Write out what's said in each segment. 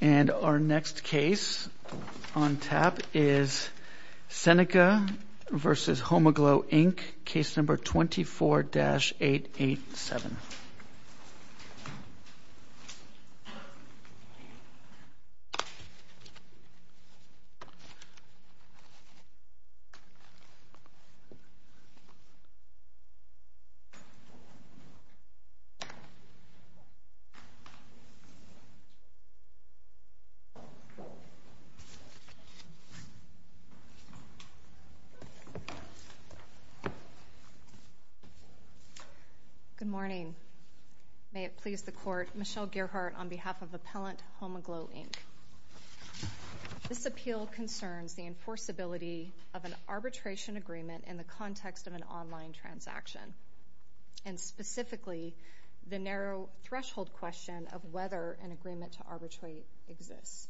And our next case on tap is Seneca v. Homeaglow Inc, case number 24-887. Good morning. May it please the Court, Michelle Gearhart on behalf of Appellant Homeaglow Inc. This appeal concerns the enforceability of an arbitration agreement in the context of an online transaction, and specifically, the narrow threshold question of whether an agreement to arbitrate exists.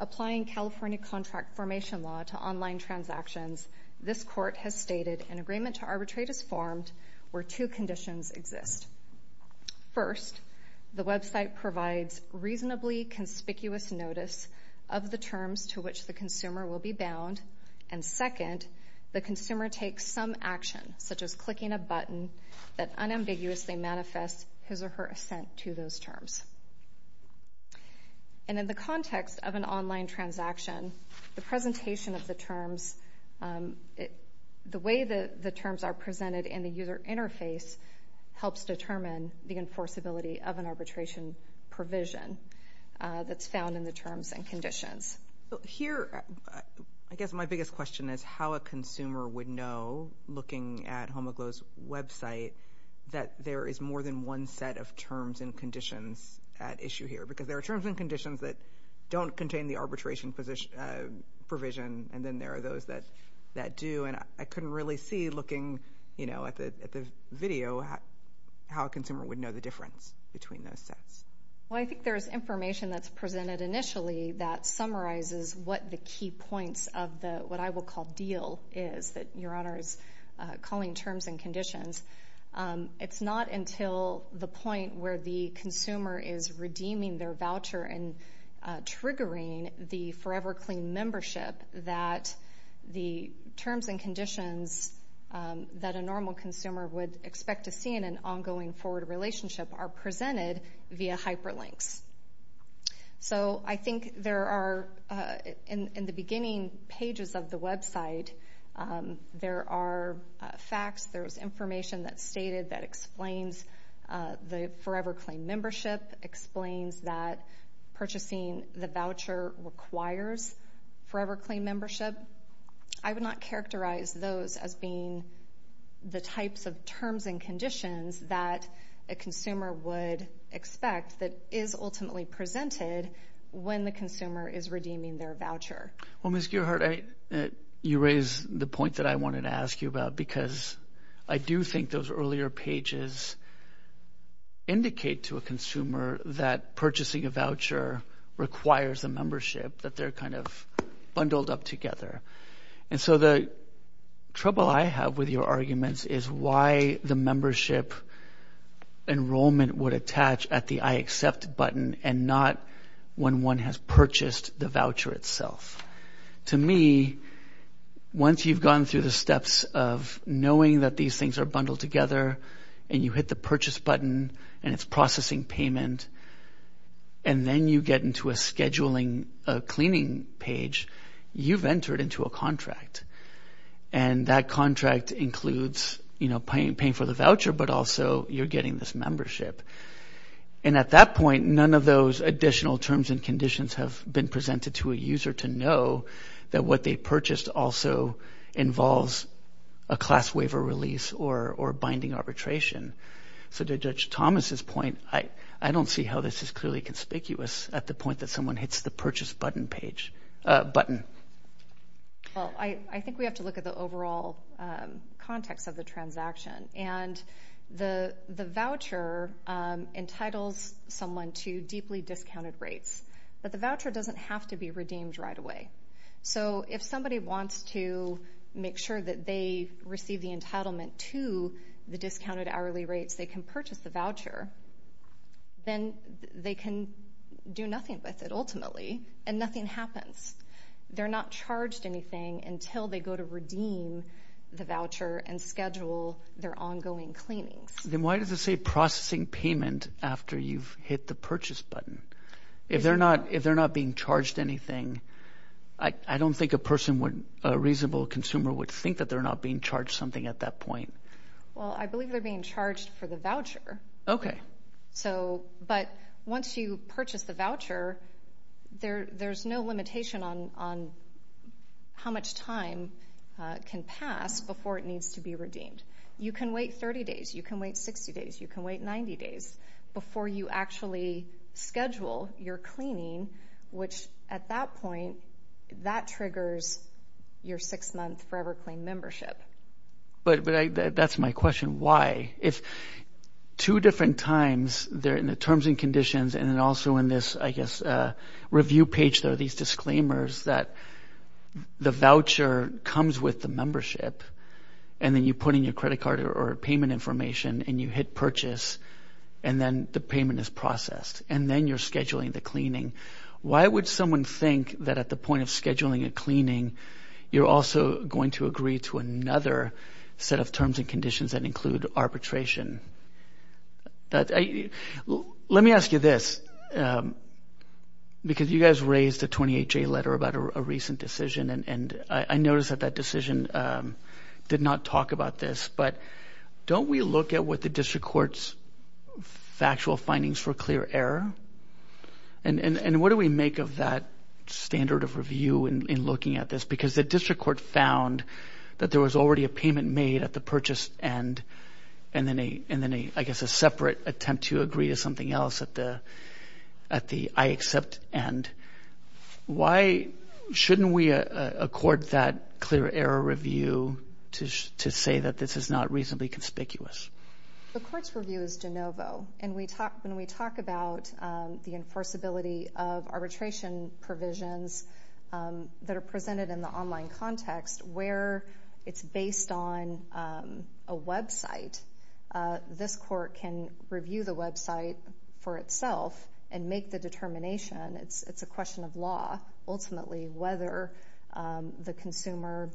Applying California contract formation law to online transactions, this Court has stated an agreement to arbitrate is formed where two conditions exist. First, the website provides reasonably conspicuous notice of the terms to which the consumer will be bound, and second, the consumer takes some action, such as clicking a button, that unambiguously manifests his or her assent to those terms. And in the context of an online transaction, the presentation of the terms, the way the terms are presented in the user interface helps determine the enforceability of an arbitration provision that's found in terms and conditions. Here, I guess my biggest question is how a consumer would know, looking at Homeaglow's website, that there is more than one set of terms and conditions at issue here, because there are terms and conditions that don't contain the arbitration provision, and then there are those that do, and I couldn't really see, looking, you know, at the video, how a consumer would know the difference between those sets. Well, I think there's information that's presented initially that summarizes what the key points of the, what I will call, deal is, that Your Honor is calling terms and conditions. It's not until the point where the consumer is redeeming their voucher and triggering the forever clean membership that the terms and conditions that a normal consumer would expect to see in an ongoing forward relationship are presented via hyperlinks. So, I think there are, in the beginning pages of the website, there are facts, there's information that's stated that explains the forever clean membership, explains that purchasing the voucher requires forever clean membership. I would not characterize those as being the types of terms and conditions that a consumer would expect that is ultimately presented when the consumer is redeeming their voucher. Well, Ms. Gearheart, you raise the point that I wanted to ask you about, because I do think those earlier pages indicate to a consumer that purchasing a voucher requires a membership, that they're kind of bundled up together. And so, the trouble I have with your arguments is why the membership enrollment would attach at the I accept button and not when one has purchased the voucher itself. To me, once you've gone through the steps of knowing that these things are bundled together and you hit the purchase button and it's processing payment, and then you get into a scheduling cleaning page, you've entered into a contract. And that contract includes paying for the voucher, but also you're getting this membership. And at that point, none of those additional terms and conditions have been presented to a user to know that what they purchased also involves a class waiver release or binding arbitration. So, to Judge Thomas's point, I don't see how this is clearly conspicuous at the point that someone hits the purchase button page, button. Well, I think we have to look at the overall context of the transaction. And the voucher entitles someone to deeply discounted rates, but the voucher doesn't have to be redeemed right away. So, if somebody wants to make sure that they receive the entitlement to the discounted hourly rates, they can purchase the voucher, then they can do nothing with it ultimately and nothing happens. They're not charged anything until they go to redeem the voucher and schedule their ongoing cleanings. Then why does it say processing payment after you've hit the purchase button? If they're not being charged anything, I don't think a person would, a reasonable consumer would think that they're not being charged something at that point. Well, I believe they're being charged for the voucher. Okay. So, but once you purchase the voucher, there's no limitation on how much time can pass before it needs to be redeemed. You can wait 30 days, you can wait 60 days, you can wait 90 days before you actually schedule your cleaning, which at that point, that triggers your six-month forever clean membership. But that's my question. Why? If two different times, they're in the terms and conditions and then also in this, I guess, review page, there are these disclaimers that the voucher comes with the membership and then you put in your credit card or payment information and you hit purchase and then the payment is processed and then you're scheduling the cleaning. Why would someone think that at the point of scheduling a cleaning, you're also going to agree to another set of terms and conditions that include arbitration? Let me ask you this, because you guys raised a 28-J letter about a recent decision and I noticed that that decision did not talk about this, but don't we look at what the district court's factual findings for clear error? And what do we make of that standard of review in looking at this? Because the district court found that there was already a payment made at the purchase end and then, I guess, a separate attempt to agree to something else at the I accept end. Why shouldn't we accord that clear error review to say that this is not reasonably conspicuous? The court's review is de novo and when we talk about the enforceability of arbitration provisions that are presented in the online context where it's based on a website, this court can review the website for itself and make the determination. It's a question of law, ultimately, whether the consumer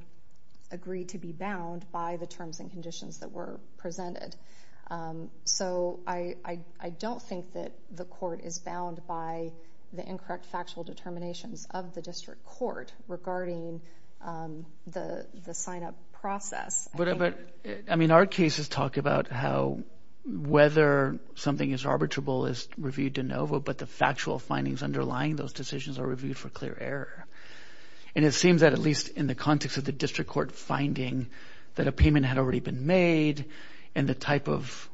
agreed to be bound by the terms and conditions that were presented. So I don't think that the court is bound by the incorrect factual determination of the district court regarding the sign-up process. Our cases talk about how whether something is arbitrable is reviewed de novo, but the factual findings underlying those decisions are reviewed for clear error. And it seems that at least in the context of the district court finding that a payment had already been made and the type of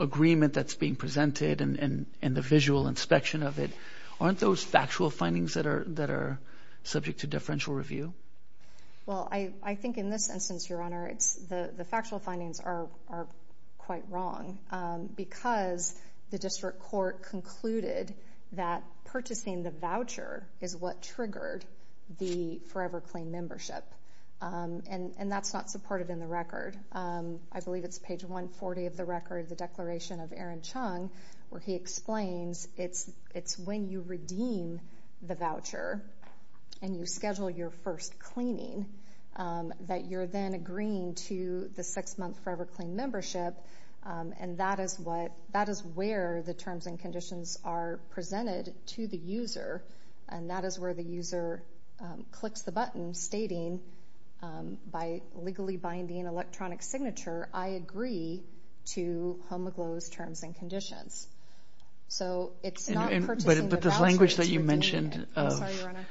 agreement that's being presented and the visual inspection of it, aren't those factual findings that are subject to differential review? Well, I think in this instance, Your Honor, the factual findings are quite wrong because the district court concluded that purchasing the voucher is what triggered the forever claim membership. And that's not supported in the record. I believe it's page 140 of the record, the declaration of Aaron Chung, where he explains it's when you redeem the voucher and you schedule your first cleaning that you're then agreeing to the six-month forever claim membership. And that is where the terms and conditions are presented to the user. And that is where the user clicks the button stating by legally binding electronic signature, I agree to Home of Glow's terms and conditions. So it's not purchasing the voucher, it's redeeming it.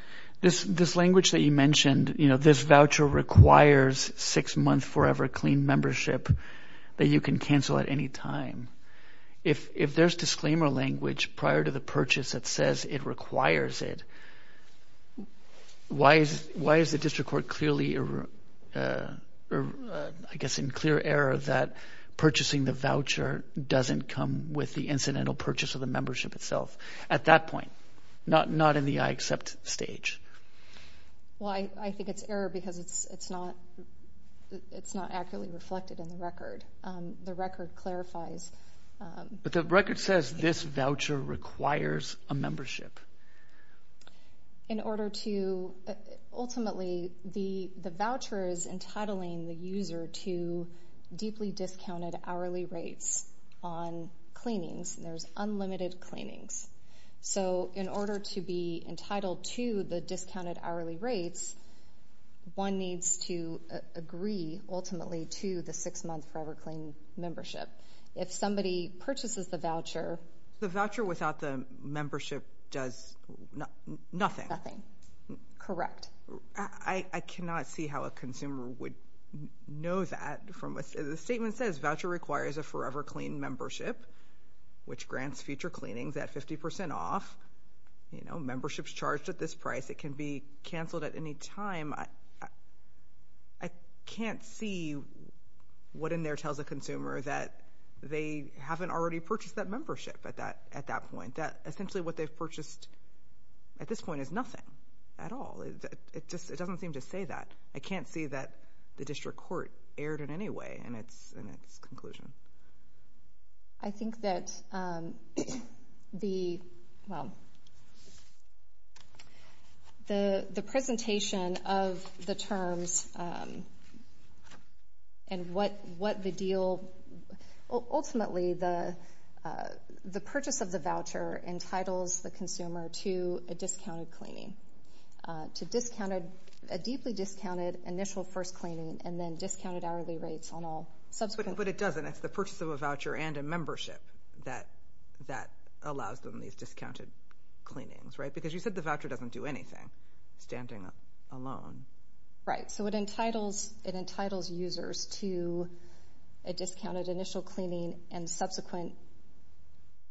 This language that you mentioned, this voucher requires six-month forever claim membership that you can cancel at any time. If there's disclaimer language prior to the purchase that says it requires it, why is the district court clearly, I guess, encouraging the purchase and clear error that purchasing the voucher doesn't come with the incidental purchase of the membership itself at that point, not in the I accept stage? Well, I think it's error because it's not accurately reflected in the record. The record clarifies... But the record says this voucher requires a membership. In order to, ultimately, the voucher is entitling the user to deeply discounted hourly rates on cleanings. There's unlimited cleanings. So in order to be entitled to the discounted hourly rates, one needs to agree ultimately to the six-month forever claim membership. If somebody purchases the voucher... The voucher without the membership does nothing. Nothing. Correct. I cannot see how a consumer would know that. The statement says voucher requires a forever claim membership, which grants future cleanings at 50 percent off. Membership's charged at this price. It can be canceled at any time. I can't see what in there tells a consumer that they haven't already purchased that membership at that point. That essentially what they've purchased at this point is nothing at all. It doesn't seem to say that. I can't see that the district court erred in any way in its conclusion. I think that the... Well, the presentation of the terms and what the deal is, I think ultimately the purchase of the voucher entitles the consumer to a discounted cleaning, a deeply discounted initial first cleaning and then discounted hourly rates on all subsequent... But it doesn't. It's the purchase of a voucher and a membership that allows them these discounted cleanings, right? Because you said the voucher doesn't do anything standing alone. Right. So it entitles users to a discounted initial cleaning and subsequent...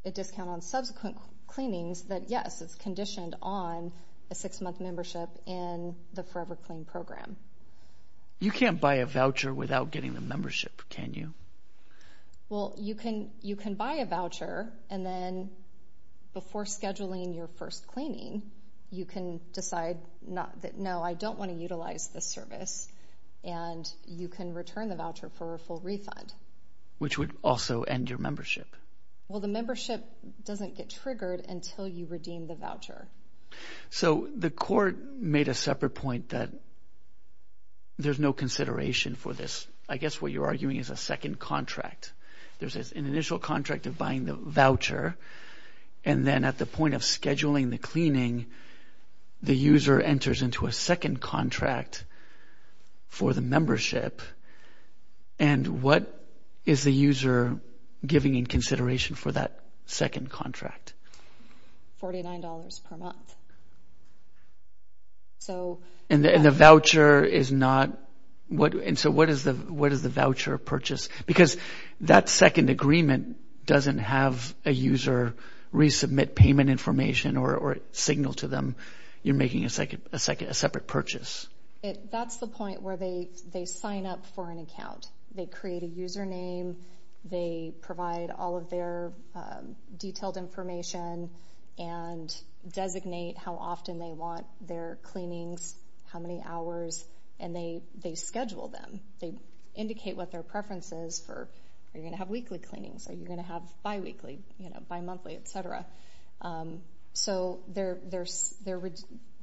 A discount on subsequent cleanings that, yes, it's conditioned on a six-month membership in the Forever Clean program. You can't buy a voucher without getting the membership, can you? Well, you can buy a voucher and then before scheduling your first cleaning, you can decide that, no, I don't want to utilize this service and you can return the voucher for a full refund. Which would also end your membership. Well, the membership doesn't get triggered until you redeem the voucher. So the court made a separate point that there's no consideration for this. I guess what you're arguing is a second contract. There's an initial contract of buying the voucher and then at the point of scheduling the cleaning, the user enters into a second contract for the membership and what is the user giving in consideration for that second contract? Forty-nine dollars per month. And the voucher is not... And so what is the voucher purchase? Because that second agreement doesn't have a user resubmit payment information or signal to them you're making a separate purchase. That's the point where they sign up for an account. They create a username. They provide all of their detailed information and designate how often they want their cleanings, how many hours, and they schedule them. They indicate what their preference is for, are you going to have weekly cleanings, are you going to have bi-weekly, bi-monthly, etc. So they're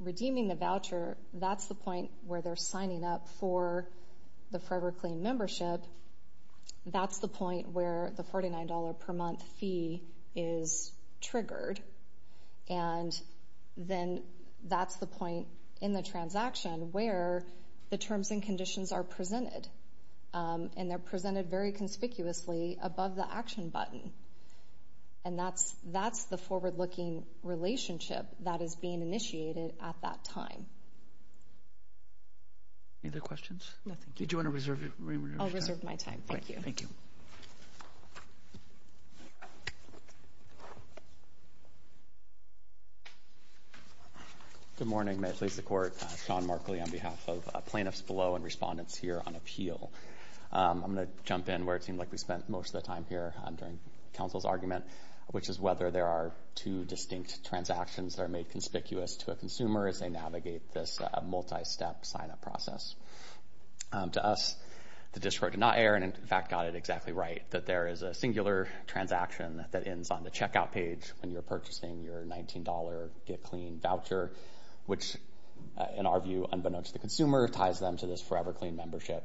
redeeming the voucher. That's the point where they're signing up for the Forever Clean membership. That's the point where the $49 per month fee is triggered. And then that's the point in the transaction where the terms and conditions are presented. And they're presented very conspicuously above the action button. And that's the forward-looking relationship that is being initiated at that time. Any other questions? No, thank you. Did you want to reserve your time? I'll reserve my time. Thank you. Thank you. Good morning. May it please the Court. Sean Markley on behalf of plaintiffs below and our respondents here on appeal. I'm going to jump in where it seemed like we spent most of the time here during counsel's argument, which is whether there are two distinct transactions that are made conspicuous to a consumer as they navigate this multi-step sign-up process. To us, the distro did not err, and in fact got it exactly right, that there is a singular transaction that ends on the checkout page when you're purchasing your $19 Get Clean voucher, which in our view, unbeknownst to the consumer, ties them to this Forever Clean membership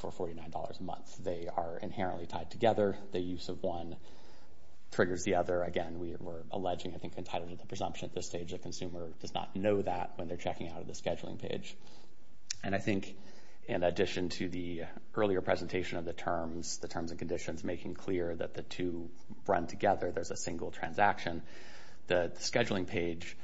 for $49 a month. They are inherently tied together. The use of one triggers the other. Again, we're alleging, I think, entitlement to presumption at this stage. The consumer does not know that when they're checking out of the scheduling page. And I think in addition to the earlier presentation of the terms, the terms and conditions making clear that the two run together, there's a single transaction, the scheduling page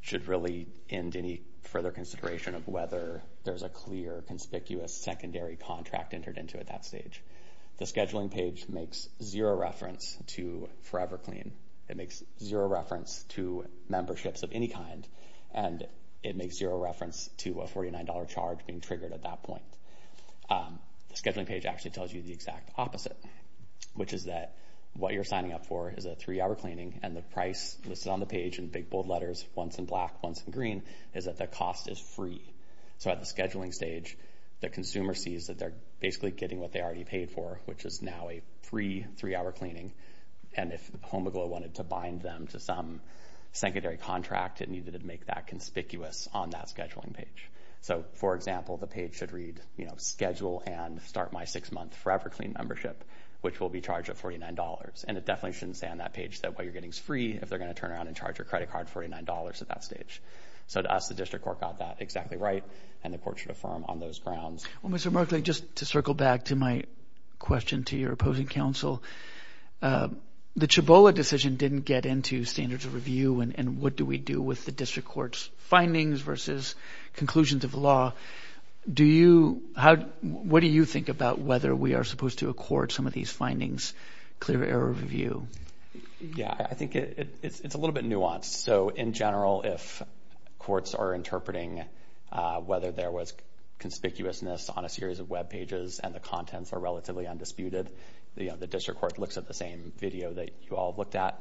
should really end any further consideration of whether there's a clear, conspicuous secondary contract entered into at that stage. The scheduling page makes zero reference to Forever Clean. It makes zero reference to memberships of any kind, and it makes zero reference to a $49 charge being triggered at that point. The scheduling page actually tells you the exact opposite, which is that what you're signing up for is a three-hour cleaning, and the price listed on the page in big, bold letters, once in black, once in green, is that the cost is free. So at the scheduling stage, the consumer sees that they're basically getting what they already paid for, which is now a free three-hour cleaning. And if Homoglow wanted to bind them to some secondary contract, it needed to make that conspicuous on that scheduling page. So for example, the page should read, you know, schedule and start my six-month Forever Clean membership, which will be charged at $49. And it definitely shouldn't say on that page that what you're getting is free if they're going to turn around and charge your credit card $49 at that stage. So to us, the district court got that exactly right, and the court should affirm on those grounds. Well, Mr. Merkley, just to circle back to my question to your opposing counsel, the Chabola decision didn't get into standards of review and what do we do with the district court's findings versus conclusions of law? Do you, how, what do you think about whether we are supposed to accord some of these findings clear error review? Yeah, I think it's a little bit nuanced. So in general, if courts are interpreting whether there was conspicuousness on a series of web pages and the contents are relatively undisputed, the district court looks at the same video that you all looked at.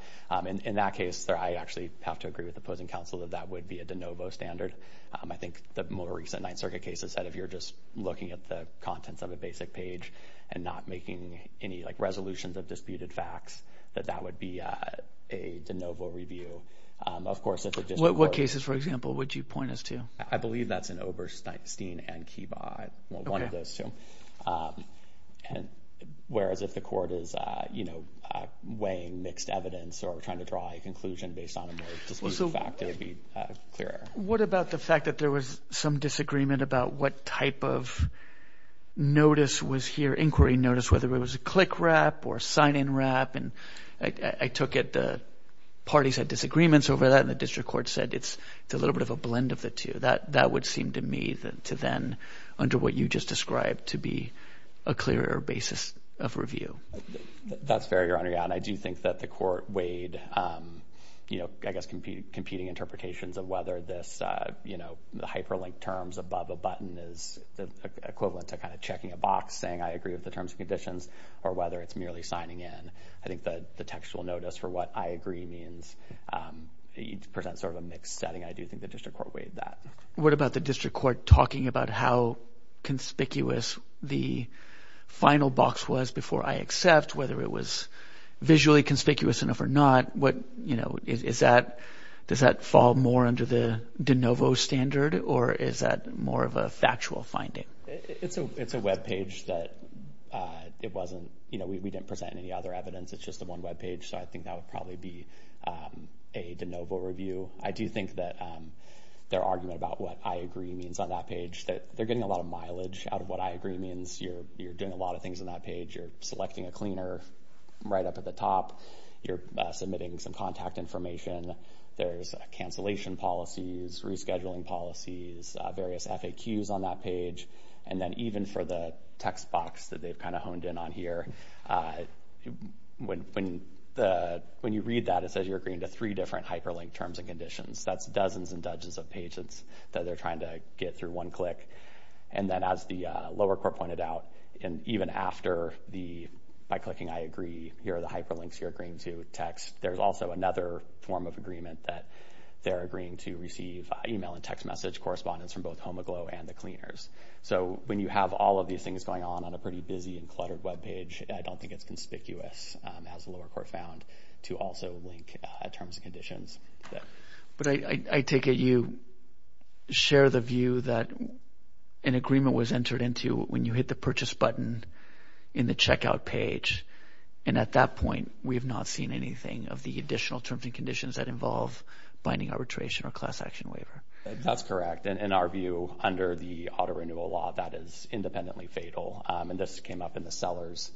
In that case, I actually have to agree with the opposing counsel that that would be a de novo standard. I think the more recent Ninth Circuit case has said if you're just looking at the contents of a basic page and not making any, like, resolutions of disputed facts, that that would be a de novo review. Of course, if the district court... What cases, for example, would you point us to? I believe that's in Oberstein and Kiva, one of those two. Whereas if the court is, you know, weighing mixed evidence or trying to draw a conclusion based on a more disputed fact, it would be clear error. What about the fact that there was some disagreement about what type of notice was here, inquiry notice, whether it was a click wrap or sign-in wrap? And I took it the parties had disagreements over that and the district court said it's a little bit of a blend of the two. That would seem to me to then, under what you just described, to be a clear error basis of review. That's fair, Your Honor. Yeah, and I do think that the court weighed, you know, I guess competing interpretations of whether this, you know, the hyperlinked terms above a button is equivalent to kind of checking a box saying I agree with the terms and conditions or whether it's merely signing in. I think that the textual notice for what I agree means presents sort of a mixed setting. I do think the district court weighed that. What about the district court talking about how conspicuous the final box was before I could accept whether it was visually conspicuous enough or not? What, you know, is that, does that fall more under the de novo standard or is that more of a factual finding? It's a webpage that it wasn't, you know, we didn't present any other evidence. It's just the one webpage. So I think that would probably be a de novo review. I do think that their argument about what I agree means on that page, that they're getting a lot of mileage out of what I agree means. You're doing a lot of things on that page. You're selecting a cleaner right up at the top. You're submitting some contact information. There's a cancellation policies, rescheduling policies, various FAQs on that page. And then even for the text box that they've kind of honed in on here, when you read that it says you're agreeing to three different hyperlinked terms and conditions. That's dozens and dozens of pages that they're trying to get through one click. And then as the lower court pointed out, and even after the by clicking I agree, here are the hyperlinks you're agreeing to text. There's also another form of agreement that they're agreeing to receive email and text message correspondence from both Home Aglow and the cleaners. So when you have all of these things going on on a pretty busy and cluttered webpage, I don't think it's conspicuous as the lower court found to also link terms and conditions. But I take it you share the view that an agreement was entered into when you hit the purchase button in the checkout page. And at that point, we have not seen anything of the additional terms and conditions that involve binding arbitration or class action waiver. That's correct. In our view, under the auto renewal law, that is independently fatal. And this came up in the sellers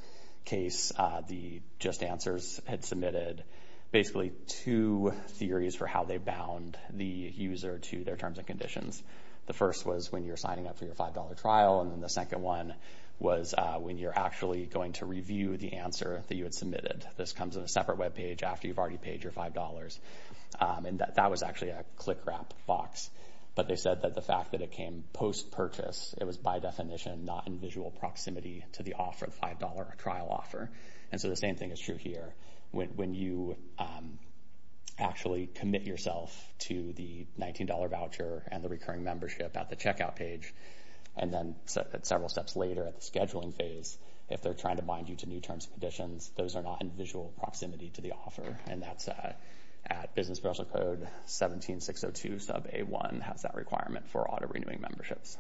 case. The JustAnswers had submitted basically two theories for how they bound the user to their terms and conditions. The first was when you're signing up for your $5 trial. And then the second one was when you're actually going to review the answer that you had submitted. This comes in a separate webpage after you've already paid your $5. And that was actually a click wrap box. But they said that the fact that it came post-purchase, it was by definition not in visual proximity to the $5 trial offer. And so the same thing is true here. When you actually commit yourself to the $19 voucher and the recurring membership at the checkout page, and then several steps later at the scheduling phase, if they're trying to bind you to new terms and conditions, those are not in visual proximity to the offer. And that's at business special code 17602 sub A1 has that requirement for auto renewing memberships.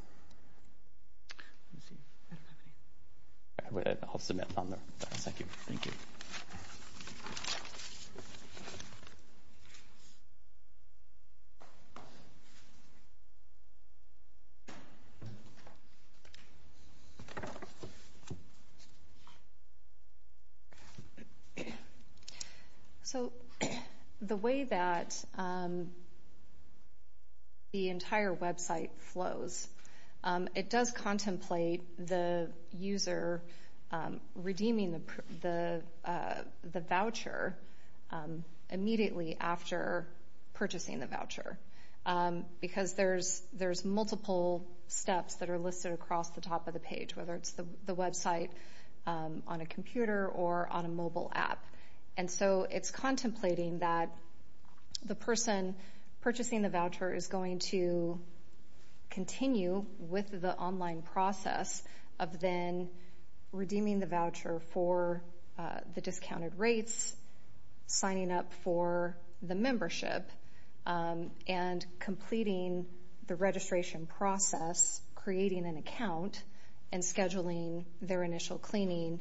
So, the way that the entire website flows, it does contemplate the user redeeming the voucher, but there's multiple steps that are listed across the top of the page, whether it's the website on a computer or on a mobile app. And so it's contemplating that the person purchasing the voucher is going to continue with the online process of then redeeming the voucher for the discounted rates, signing up for the membership, and completing the registration process, creating an account, and scheduling their initial cleaning,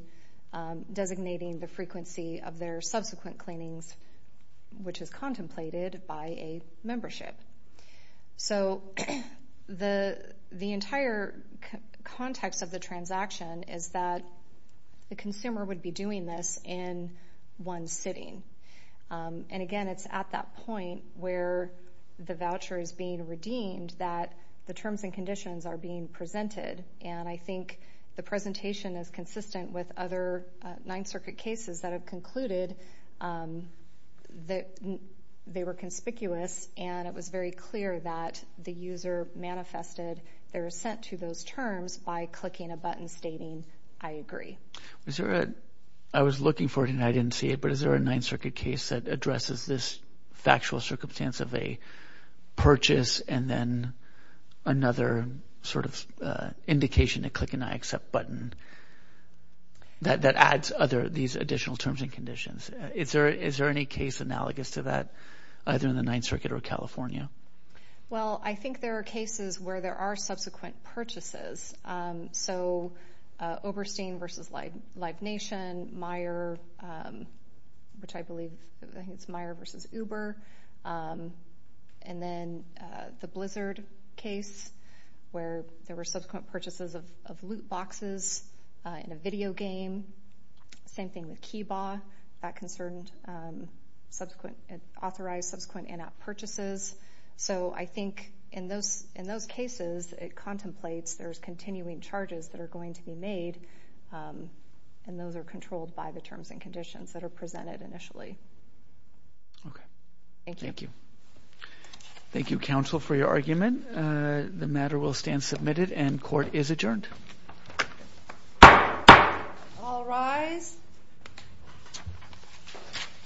designating the frequency of their subsequent cleanings, which is contemplated by a membership. So, the entire context of the transaction is that the consumer would be doing this in one sitting. And, again, it's at that point where the voucher is being redeemed that the terms and conditions are being presented. And I think the presentation is consistent with other Ninth Circuit cases that have concluded that they were conspicuous, and it was very clear that the user manifested their assent to those terms by clicking a button stating, I agree. Is there a, I was looking for it and I didn't see it, but is there a Ninth Circuit case that addresses this factual circumstance of a purchase and then another sort of indication to click an I accept button that adds these additional terms and conditions? Is there any case analogous to that, either in the Ninth Circuit or California? Well, I think there are cases where there are subsequent purchases. So, Oberstein versus Live Nation, Meijer, which I believe, I think it's Meijer versus Uber. And then the Blizzard case where there were subsequent purchases of loot boxes in a video game. Same thing with Kiba, that concerned authorized subsequent in-app purchases. So, I think in those cases, it contemplates there's continuing charges that are going to be made, and those are controlled by the terms and conditions that are presented initially. Okay. Thank you. Thank you. Thank you, counsel, for your argument. The matter will stand submitted and court is adjourned. All rise.